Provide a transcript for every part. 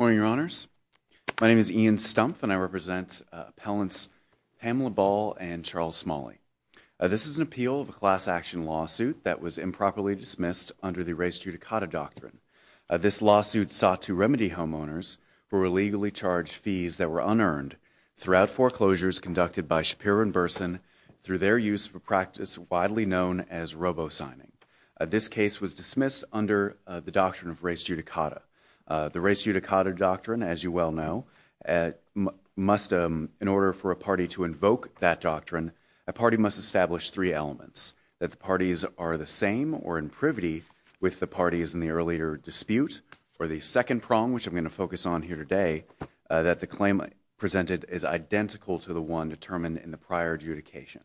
My name is Ian Stumpf and I represent appellants Pamela Ball and Charles Smalley. This is an appeal of a class action lawsuit that was improperly dismissed under the Erased Judicata Doctrine. This lawsuit sought to remedy homeowners who were illegally charged fees that were unearned throughout foreclosures conducted by Shapiro & Burson through their use of a practice widely known as robo-signing. This case was dismissed under the Doctrine of Erased Judicata. The Erased Judicata Doctrine, as you well know, must, in order for a party to invoke that doctrine, a party must establish three elements, that the parties are the same or in privity with the parties in the earlier dispute, or the second prong, which I'm going to focus on here today, that the claim presented is identical to the one determined in the prior adjudication.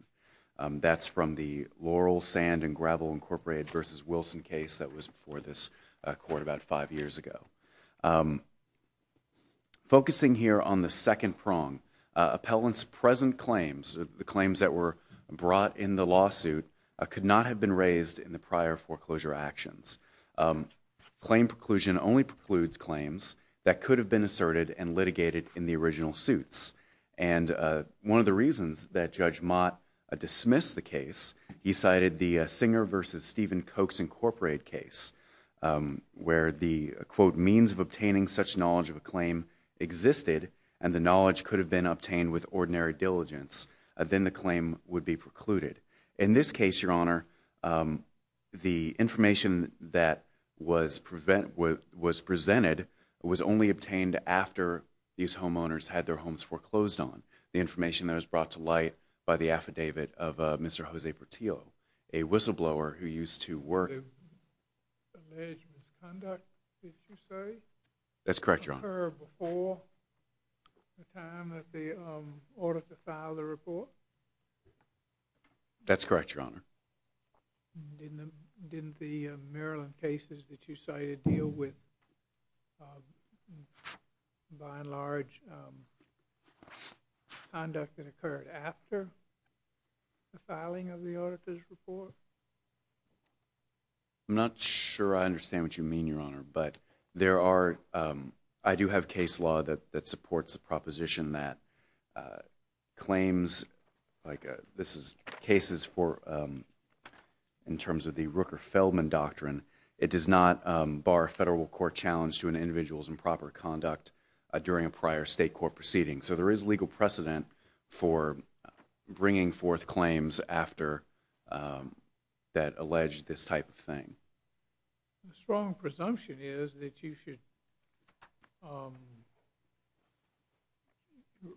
That's from the Laurel Sand & Gravel Incorporated v. Wilson case that was before this court about five years ago. Focusing here on the second prong, appellants' present claims, the claims that were brought in the lawsuit, could not have been raised in the prior foreclosure actions. Claim preclusion only precludes claims that could have been asserted and litigated in the original suits. One of the reasons that Judge Mott dismissed the case, he cited the Singer v. Stephen Cokes Incorporated case, where the, quote, means of obtaining such knowledge of a claim existed and the knowledge could have been obtained with ordinary diligence. Then the claim would be precluded. In this case, Your Honor, the information that was presented was only obtained after these homeowners had their homes foreclosed on. The information that was brought to light by the affidavit of Mr. Jose Portillo, a whistleblower who used to work... The alleged misconduct, did you say? That's correct, Your Honor. Occurred before the time that they ordered to file the report? That's correct, Your Honor. Didn't the Maryland cases that you cited deal with, by and large, conduct that occurred after the filing of the auditor's report? I'm not sure I understand what you mean, Your Honor, but there are... a proposition that claims, like this is cases for, in terms of the Rooker-Feldman Doctrine, it does not bar a federal court challenge to an individual's improper conduct during a prior state court proceeding. So there is legal precedent for bringing forth claims after that alleged this type of thing. The strong presumption is that you should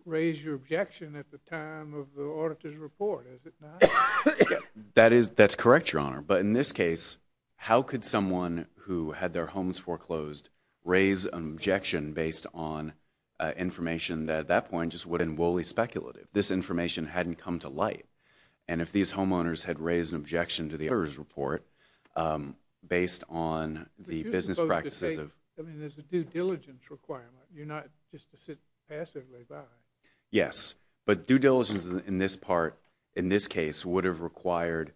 raise your objection at the time of the auditor's report, is it not? That is, that's correct, Your Honor, but in this case, how could someone who had their homes foreclosed raise an objection based on information that, at that point, just would have been woolly speculative? This information hadn't come to light, and if these homeowners had raised an objection to the auditor's report, based on the business practices of... But you're supposed to say, I mean, there's a due diligence requirement, you're not just to sit passively by. Yes, but due diligence in this part, in this case, would have required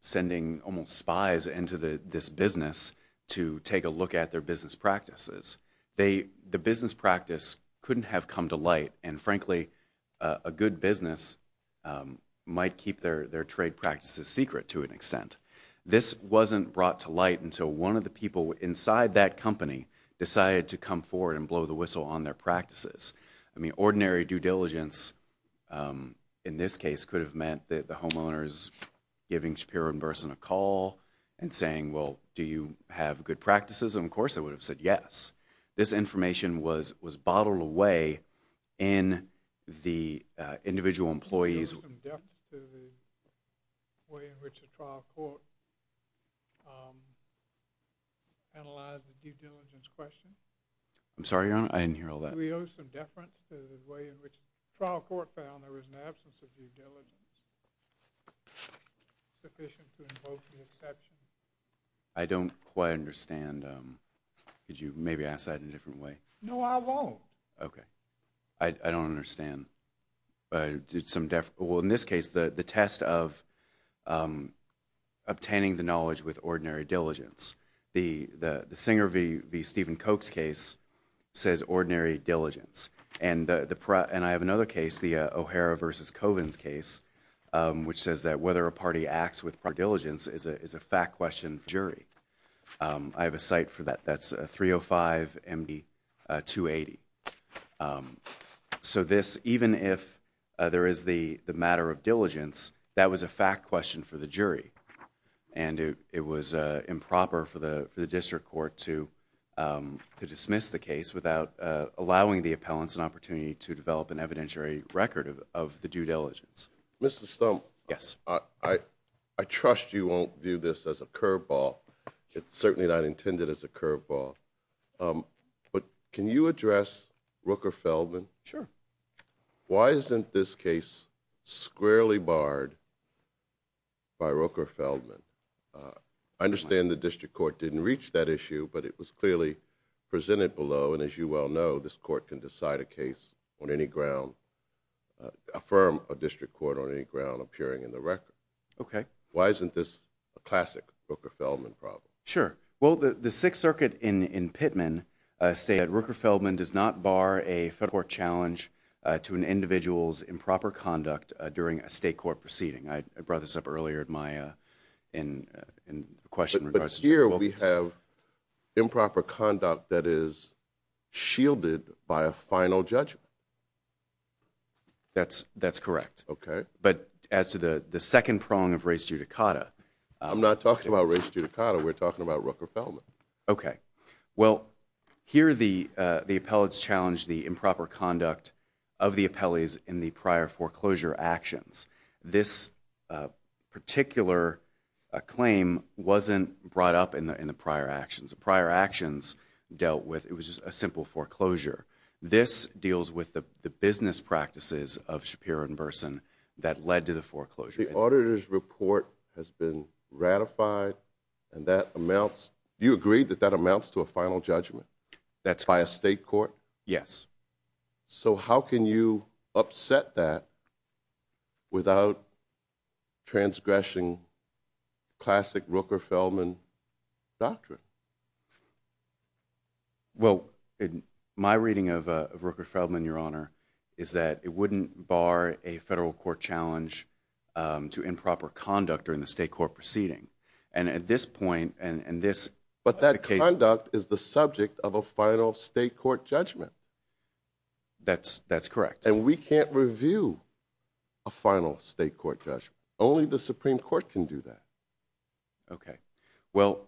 sending almost spies into this business to take a look at their business practices. The business practice couldn't have come to light, and frankly, a good business might keep their trade practices secret, to an extent. This wasn't brought to light until one of the people inside that company decided to come forward and blow the whistle on their practices. I mean, ordinary due diligence, in this case, could have meant that the homeowners giving Shapiro and Burson a call and saying, well, do you have good practices? And of course, they would have said yes. This information was bottled away in the individual employees... Do we owe some deference to the way in which the trial court analyzed the due diligence question? I'm sorry, Your Honor, I didn't hear all that. Do we owe some deference to the way in which the trial court found there was an absence of due diligence sufficient to invoke the exception? I don't quite understand. Could you maybe ask that in a different way? No, I won't. Okay. I don't understand. Well, in this case, the test of obtaining the knowledge with ordinary diligence. The Singer v. Stephen Koch's case says ordinary diligence. And I have another case, the O'Hara versus Covins case, which says that whether a party acts with due diligence is a fact question for jury. I have a site for that. That's 305 MD 280. So this, even if there is the matter of diligence, that was a fact question for the jury. And it was improper for the district court to dismiss the case without allowing the appellants an opportunity to develop an evidentiary record of the due diligence. Mr. Stump. Yes. I trust you won't view this as a curveball. It's certainly not intended as a curveball. But can you address Rooker-Feldman? Sure. Why isn't this case squarely barred by Rooker-Feldman? I understand the district court didn't reach that issue, but it was clearly presented below. And as you well know, this court can decide a case on any ground, affirm a district court on any ground appearing in the record. Okay. Why isn't this a classic Rooker-Feldman problem? Sure. Well, the Sixth Circuit in Pittman stated that Rooker-Feldman does not bar a federal court challenge to an individual's improper conduct during a state court proceeding. I brought this up earlier in my question. But here we have improper conduct that is shielded by a final judgment. That's correct. Okay. But as to the second prong of res judicata. I'm not talking about res judicata. We're talking about Rooker-Feldman. Okay. Well, here the appellates challenged the improper conduct of the appellees in the prior foreclosure actions. This particular claim wasn't brought up in the prior actions. The prior actions dealt with, it was just a simple foreclosure. This deals with the business practices of Shapiro and Burson that led to the foreclosure. But the auditor's report has been ratified and that amounts, you agree that that amounts to a final judgment? That's right. By a state court? Yes. So how can you upset that without transgressing classic Rooker-Feldman doctrine? Well, my reading of Rooker-Feldman, Your Honor, is that it wouldn't bar a federal court challenge to improper conduct during the state court proceeding. And at this point, and this... But that conduct is the subject of a final state court judgment. That's correct. And we can't review a final state court judgment. Only the Supreme Court can do that. Okay. Well...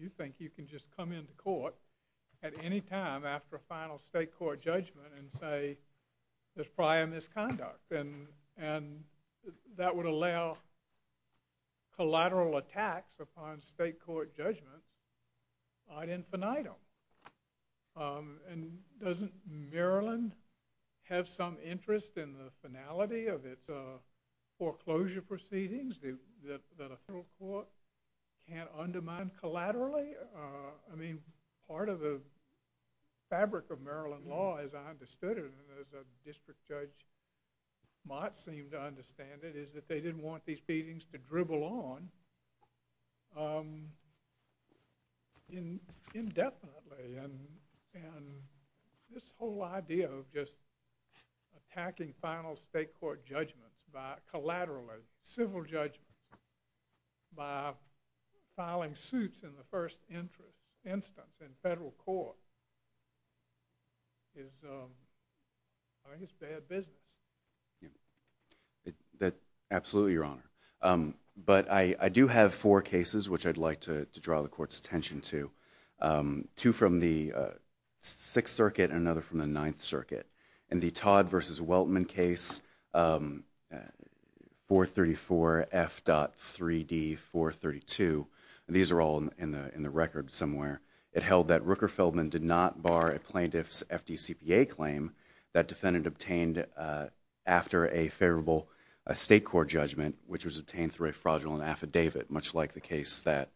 you think you can just come into court at any time after a final state court judgment and say there's prior misconduct. And that would allow collateral attacks upon state court judgment ad infinitum. And doesn't Maryland have some interest in the finality of its foreclosure proceedings that a federal court can undermine collaterally? I mean, part of the fabric of Maryland law as I understood it, and as District Judge Mott seemed to understand it, is that they didn't want these proceedings to dribble on indefinitely. And this whole idea of just attacking final state court judgments by collateral, or civil judgment, by filing suits in the first instance in federal court, is... I think it's bad business. Absolutely, Your Honor. But I do have four cases which I'd like to draw the Court's attention to. Two from the Sixth Circuit and another from the Ninth Circuit. In the Todd v. Weltman case, 434F.3D432, these are all in the record somewhere, it held that Rooker Feldman did not bar a plaintiff's FDCPA claim that defendant obtained after a favorable state court judgment, which was obtained through a fraudulent affidavit, much like the case that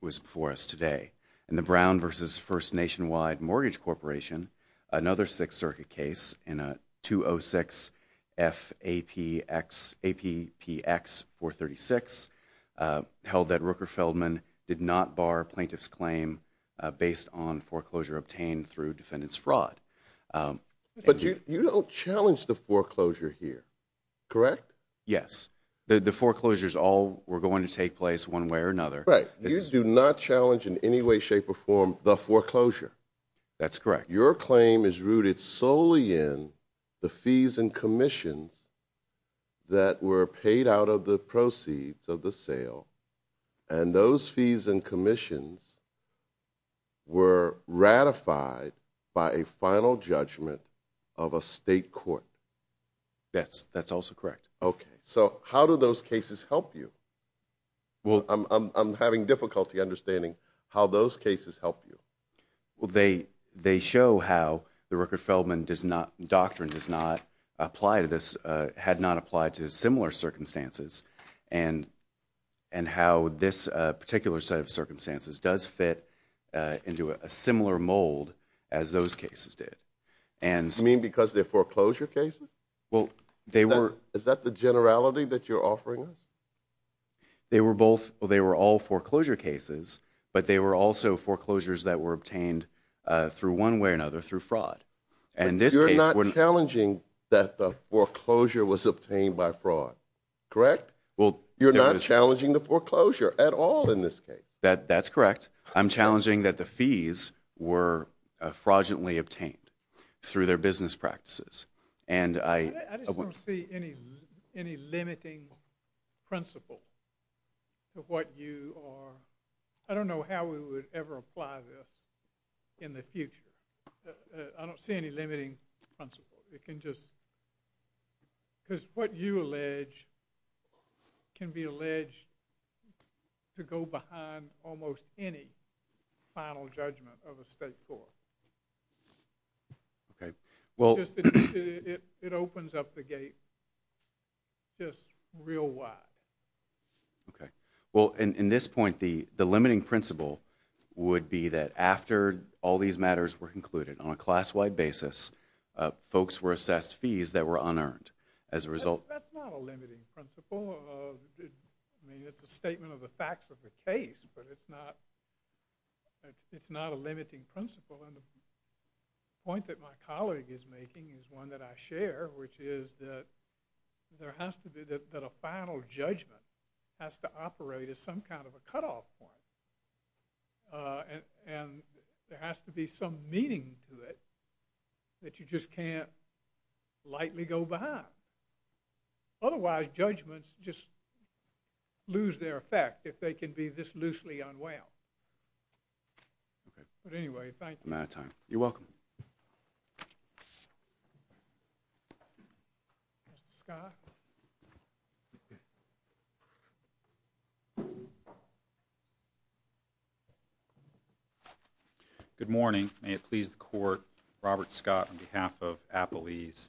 was before us today. In the Brown v. First Nationwide Mortgage Corporation, another Sixth Circuit case, in a 206F.APPX436, held that Rooker Feldman did not bar a plaintiff's claim based on foreclosure obtained through defendant's fraud. But you don't challenge the foreclosure here, correct? Yes. The foreclosures all were going to take place one way or another. Right. You do not challenge in any way, shape, or form the foreclosure. That's correct. Your claim is rooted solely in the fees and commissions that were paid out of the proceeds of the sale, and those fees and commissions were ratified by a final judgment of a state court. That's also correct. So how do those cases help you? I'm having difficulty understanding how those cases help you. They show how the Rooker Feldman doctrine had not applied to similar circumstances, and how this particular set of circumstances does fit into a similar mold as those cases did. You mean because they're foreclosure cases? Is that the generality that you're offering us? They were all foreclosure cases, but they were also foreclosures that were obtained through one way or another through fraud. You're not challenging that the foreclosure was obtained by fraud, correct? You're not challenging the foreclosure at all in this case. That's correct. I'm challenging that the fees were fraudulently obtained through their business practices. I just don't see any limiting principle to what you are... I don't know how we would ever apply this in the future. I don't see any limiting principle. It can just... Because what you allege can be alleged to go behind almost any final judgment of a state court. It opens up the gate just real wide. Okay. Well, in this point, the limiting principle would be that after all these matters were concluded on a class-wide basis, folks were assessed fees that were unearned. That's not a limiting principle. It's a statement of the facts of the case, but it's not a limiting principle. The point that my colleague is making is one that I share, which is that there has to be... that a final judgment has to operate as some kind of a cutoff point. And there has to be some meaning to it that you just can't lightly go behind. Otherwise, judgments just lose their effect if they can be this loosely unwound. Okay. But anyway, thank you. I'm out of time. You're welcome. Mr. Scott? Good morning. May it please the Court, Robert Scott, on behalf of Appalese.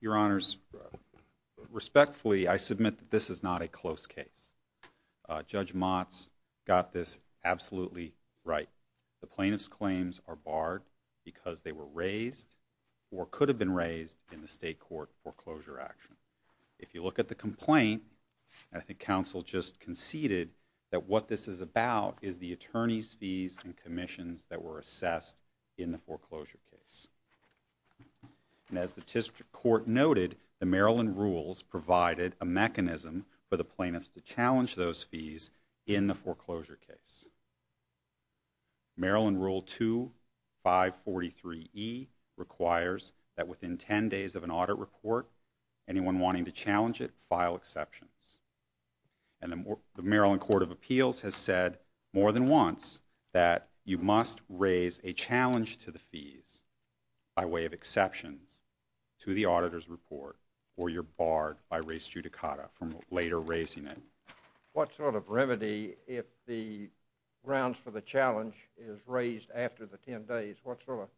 Your Honors, respectfully, I submit that this is not a close case. Judge Motz got this absolutely right. The plaintiff's claims are barred because they were raised or could have been raised in the state court foreclosure action. If you look at the complaint, I think counsel just conceded that what this is about is the attorney's fees and commissions that were assessed in the foreclosure case. And as the district court noted, the Maryland rules provided a mechanism for the plaintiffs to challenge those fees in the foreclosure case. Maryland Rule 2543E requires that within 10 days of an audit report, anyone wanting to challenge it, file exceptions. And the Maryland Court of Appeals has said more than once that you must raise a challenge to the fees by way of exceptions to the auditor's report or you're barred by res judicata from later raising it. What sort of remedy, if the grounds for the challenge is raised after the 10 days, what sort of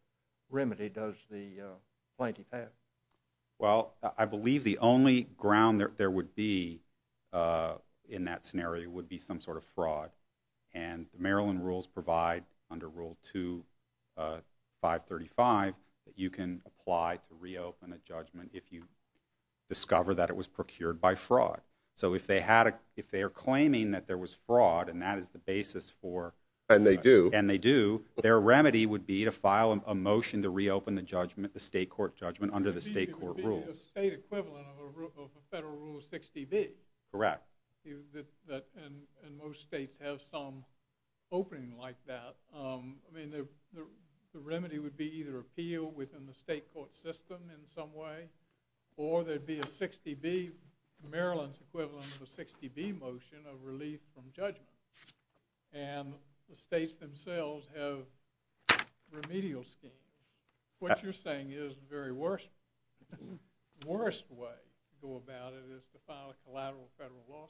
remedy does the plaintiff have? Well, I believe the only ground there would be in that scenario would be some sort of fraud. And the Maryland rules provide under Rule 2535 that you can apply to reopen a judgment if you discover that it was procured by fraud. So if they are claiming that there was fraud and that is the basis for... And they do. And they do, their remedy would be to file a motion to reopen the judgment, the state court judgment, under the state court rules. It would be a state equivalent of a federal Rule 60B. Correct. And most states have some opening like that. I mean, the remedy would be either appeal within the state court system in some way, or there would be a 60B, Maryland's equivalent of a 60B motion of relief from judgment. And the states themselves have remedial schemes. What you're saying is the very worst way to go about it is to file a collateral federal lawsuit.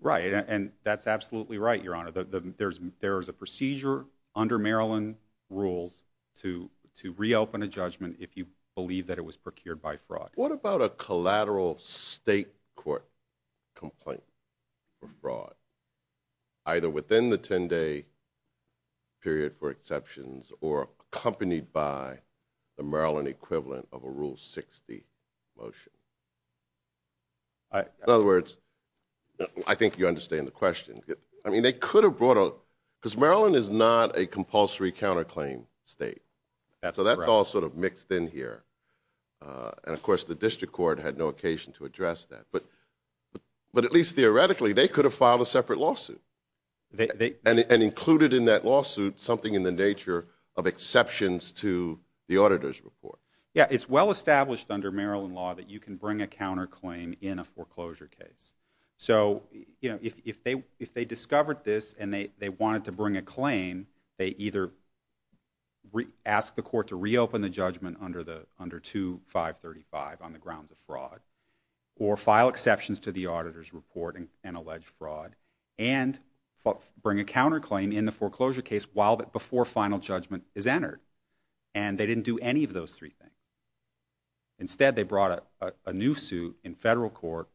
Right, and that's absolutely right, Your Honor. There is a procedure under Maryland rules to reopen a judgment if you believe that it was procured by fraud. What about a collateral state court complaint for fraud, either within the 10-day period for exceptions, or accompanied by the Maryland equivalent of a Rule 60 motion? In other words, I think you understand the question. I mean, they could have brought a... Because Maryland is not a compulsory counterclaim state. So that's all sort of mixed in here. And of course, the district court had no occasion to address that. But at least theoretically, they could have filed a separate lawsuit and included in that lawsuit something in the nature of exceptions to the auditor's report. Yeah, it's well established under Maryland law that you can bring a counterclaim So if they discovered this and they wanted to bring a claim, they either ask the court to reopen the judgment under 2-535 on the grounds of fraud, or file exceptions to the auditor's report and allege fraud, and bring a counterclaim in the foreclosure case before final judgment is entered. And they didn't do any of those three things. Instead, they brought a new suit in federal court,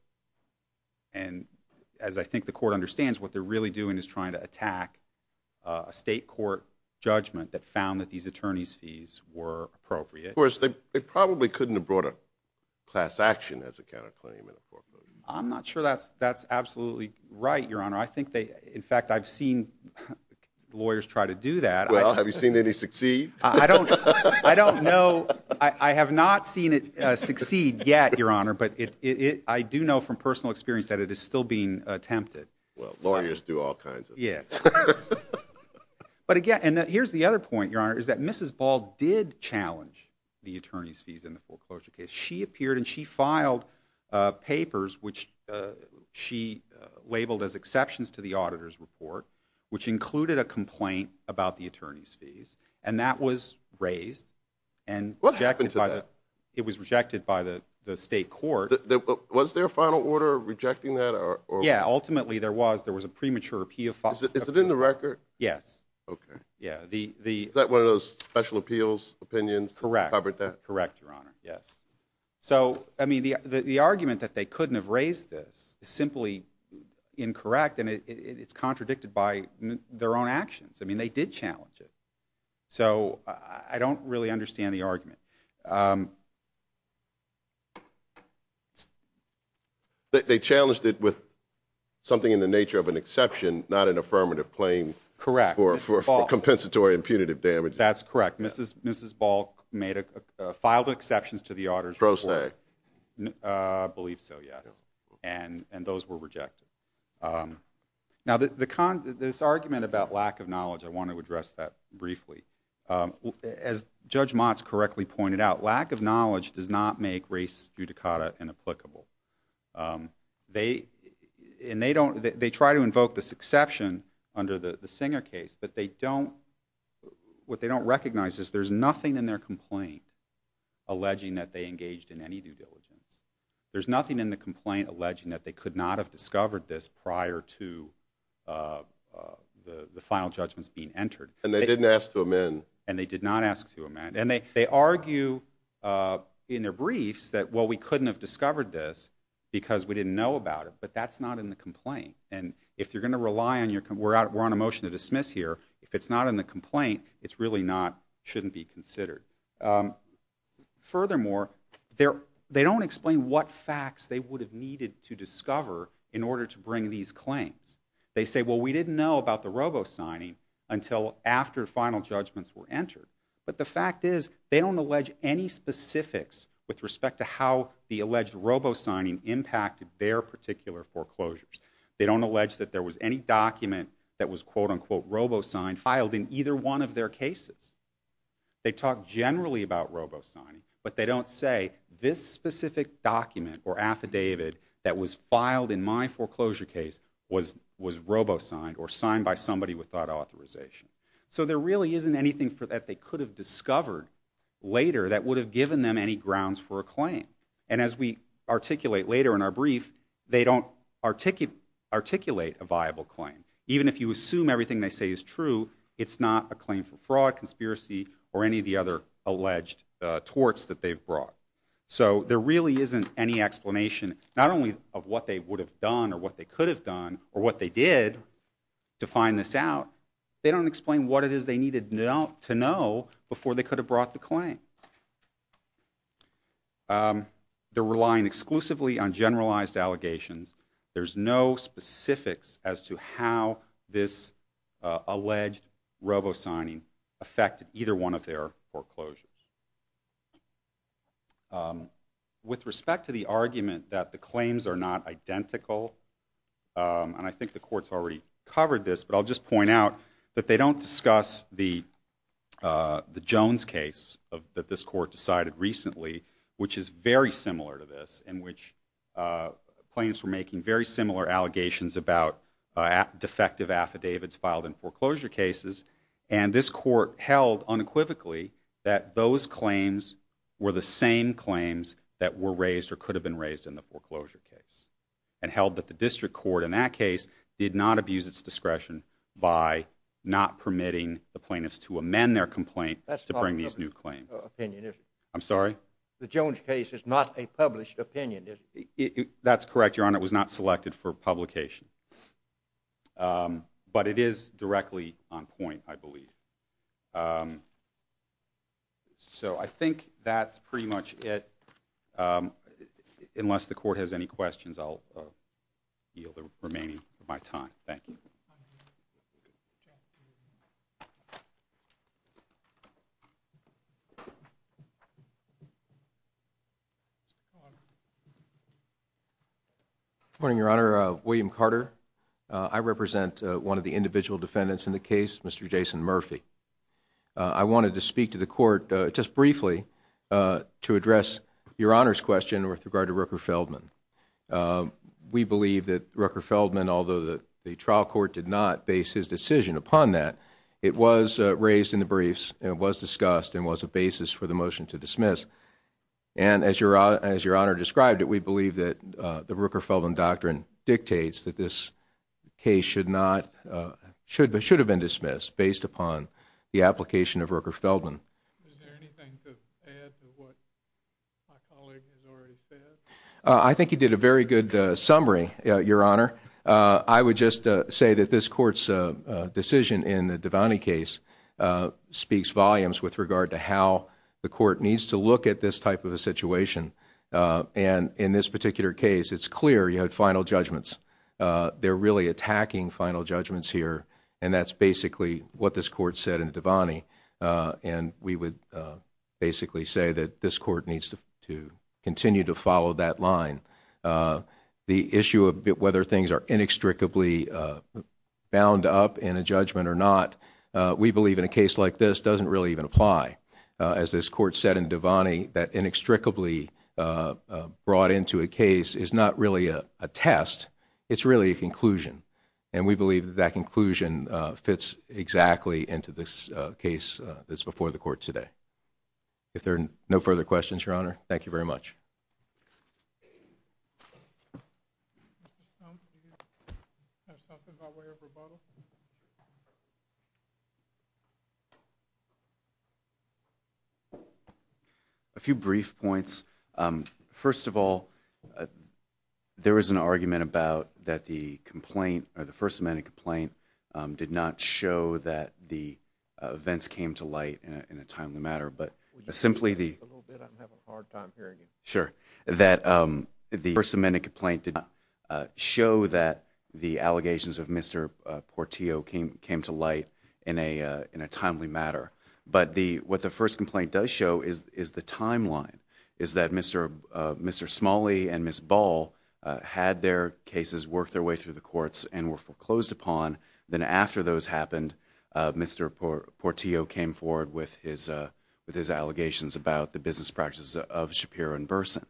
what they're really doing is trying to attack a state court judgment that found that these attorney's fees were appropriate. Of course, they probably couldn't have brought a class action as a counterclaim in a foreclosure. I'm not sure that's absolutely right, Your Honor. In fact, I've seen lawyers try to do that. Well, have you seen any succeed? I don't know. I have not seen it succeed yet, Your Honor. But I do know from personal experience that it is still being attempted. Well, lawyers do all kinds of things. But again, here's the other point, Your Honor, is that Mrs. Ball did challenge the attorney's fees in the foreclosure case. She appeared and she filed papers, which she labeled as exceptions to the auditor's report, which included a complaint about the attorney's fees, and that was raised. What happened to that? It was rejected by the state court. Was there a final order rejecting that? Yeah, ultimately there was. Is it in the record? Yes. Is that one of those special appeals opinions? Correct, Your Honor, yes. So, I mean, the argument that they couldn't have raised this is simply incorrect, and it's contradicted by their own actions. I mean, they did challenge it. They challenged it with something in the nature of an exception, not an affirmative claim for compensatory and punitive damages. That's correct. Mrs. Ball filed exceptions to the auditor's report. Pro se. I believe so, yes, and those were rejected. Now, this argument about lack of knowledge, I want to address that briefly. As Judge Motz correctly pointed out, lack of knowledge does not make race judicata inapplicable. They try to invoke this exception under the Singer case, but they don't... What they don't recognize is there's nothing in their complaint alleging that they engaged in any due diligence. There's nothing in the complaint alleging that they could not have discovered this prior to the final judgments being entered. And they didn't ask to amend. And they did not ask to amend, and they argue in their briefs that, well, we couldn't have discovered this because we didn't know about it, but that's not in the complaint. And if you're going to rely on your... We're on a motion to dismiss here. If it's not in the complaint, it really shouldn't be considered. Furthermore, they don't explain what facts they would have needed to discover in order to bring these claims. They say, well, we didn't know about the robo-signing until after final judgments were entered. But the fact is, they don't allege any specifics with respect to how the alleged robo-signing impacted their particular foreclosures. They don't allege that there was any document that was quote-unquote robo-signed, filed in either one of their cases. They talk generally about robo-signing, but they don't say this specific document or affidavit that was filed in my foreclosure case was robo-signed or signed by somebody without authorization. So there really isn't anything that they could have discovered later that would have given them any grounds for a claim. And as we articulate later in our brief, they don't articulate a viable claim. Even if you assume everything they say is true, it's not a claim for fraud, conspiracy, or any of the other alleged torts that they've brought. So there really isn't any explanation, not only of what they would have done or what they could have done or what they did to find this out, they don't explain what it is they needed to know before they could have brought the claim. They're relying exclusively on generalized allegations. There's no specifics as to how this alleged robo-signing affected either one of their foreclosures. With respect to the argument that the claims are not identical, and I think the court's already covered this, but I'll just point out that they don't discuss the Jones case that this court decided recently, which is very similar to this, in which plaintiffs were making very similar allegations about defective affidavits filed in foreclosure cases, and this court held unequivocally that those claims were the same claims that were raised or could have been raised in the foreclosure case, and held that the district court in that case did not abuse its discretion by not permitting the plaintiffs to amend their complaint to bring these new claims. The Jones case is not a published opinion, is it? That's correct, Your Honor. It was not selected for publication. But it is directly on point, I believe. So I think that's pretty much it. Unless the court has any questions, I'll yield the remaining of my time. Thank you. Good morning, Your Honor. I represent one of the individual defendants in the case, Mr. Jason Murphy. I wanted to speak to the court just briefly to address Your Honor's question with regard to Rooker-Feldman. We believe that Rooker-Feldman, although the trial court did not base his decision upon that, it was raised in the briefs and it was discussed and was a basis for the motion to dismiss. And as Your Honor described it, we believe that the Rooker-Feldman doctrine dictates that this case should have been dismissed based upon the application of Rooker-Feldman. Is there anything to add to what my colleague has already said? I think he did a very good summary, Your Honor. I would just say that this court's decision in the Devaney case speaks volumes with regard to how the court needs to look at this type of a situation. And in this particular case, it's clear you had final judgments. They're really attacking final judgments here and that's basically what this court said in Devaney. And we would basically say that this court needs to continue to follow that line. The issue of whether things are inextricably bound up in a judgment or not, we believe in a case like this doesn't really even apply. As this court said in Devaney, that inextricably brought into a case is not really a test, it's really a conclusion. And we believe that that conclusion fits exactly into this case that's before the court today. If there are no further questions, Your Honor, thank you very much. A few brief points. First of all, there was an argument about that the complaint, or the First Amendment complaint did not show that the events came to light in a timely manner. But simply the... Sure, that the First Amendment complaint did not show that the allegations of Mr. Portillo came to light in a timely manner. But what the first complaint does show is the timeline. Is that Mr. Smalley and Ms. Ball had their cases work their way through the courts and were foreclosed upon. Then after those happened, Mr. Portillo came forward with his allegations about the business practices of Shapiro and Burson.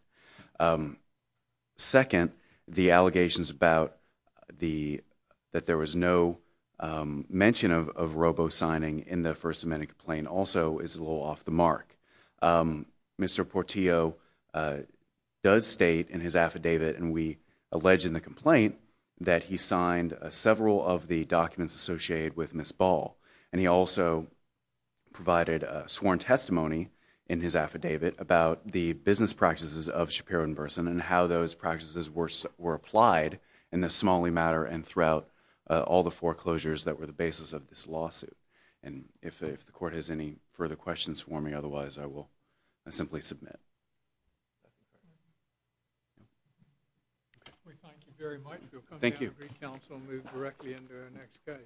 Second, the allegations about that there was no mention of robo-signing in the First Amendment complaint also is a little off the mark. Mr. Portillo does state in his affidavit, and we allege in the complaint, that he signed several of the documents associated with Ms. Ball. And he also provided a sworn testimony in his affidavit about the business practices of Shapiro and Burson and how those practices were applied in the Smalley matter and throughout all the foreclosures that were the basis of this lawsuit. And if the court has any further questions for me, otherwise I will simply submit. We thank you very much. Thank you.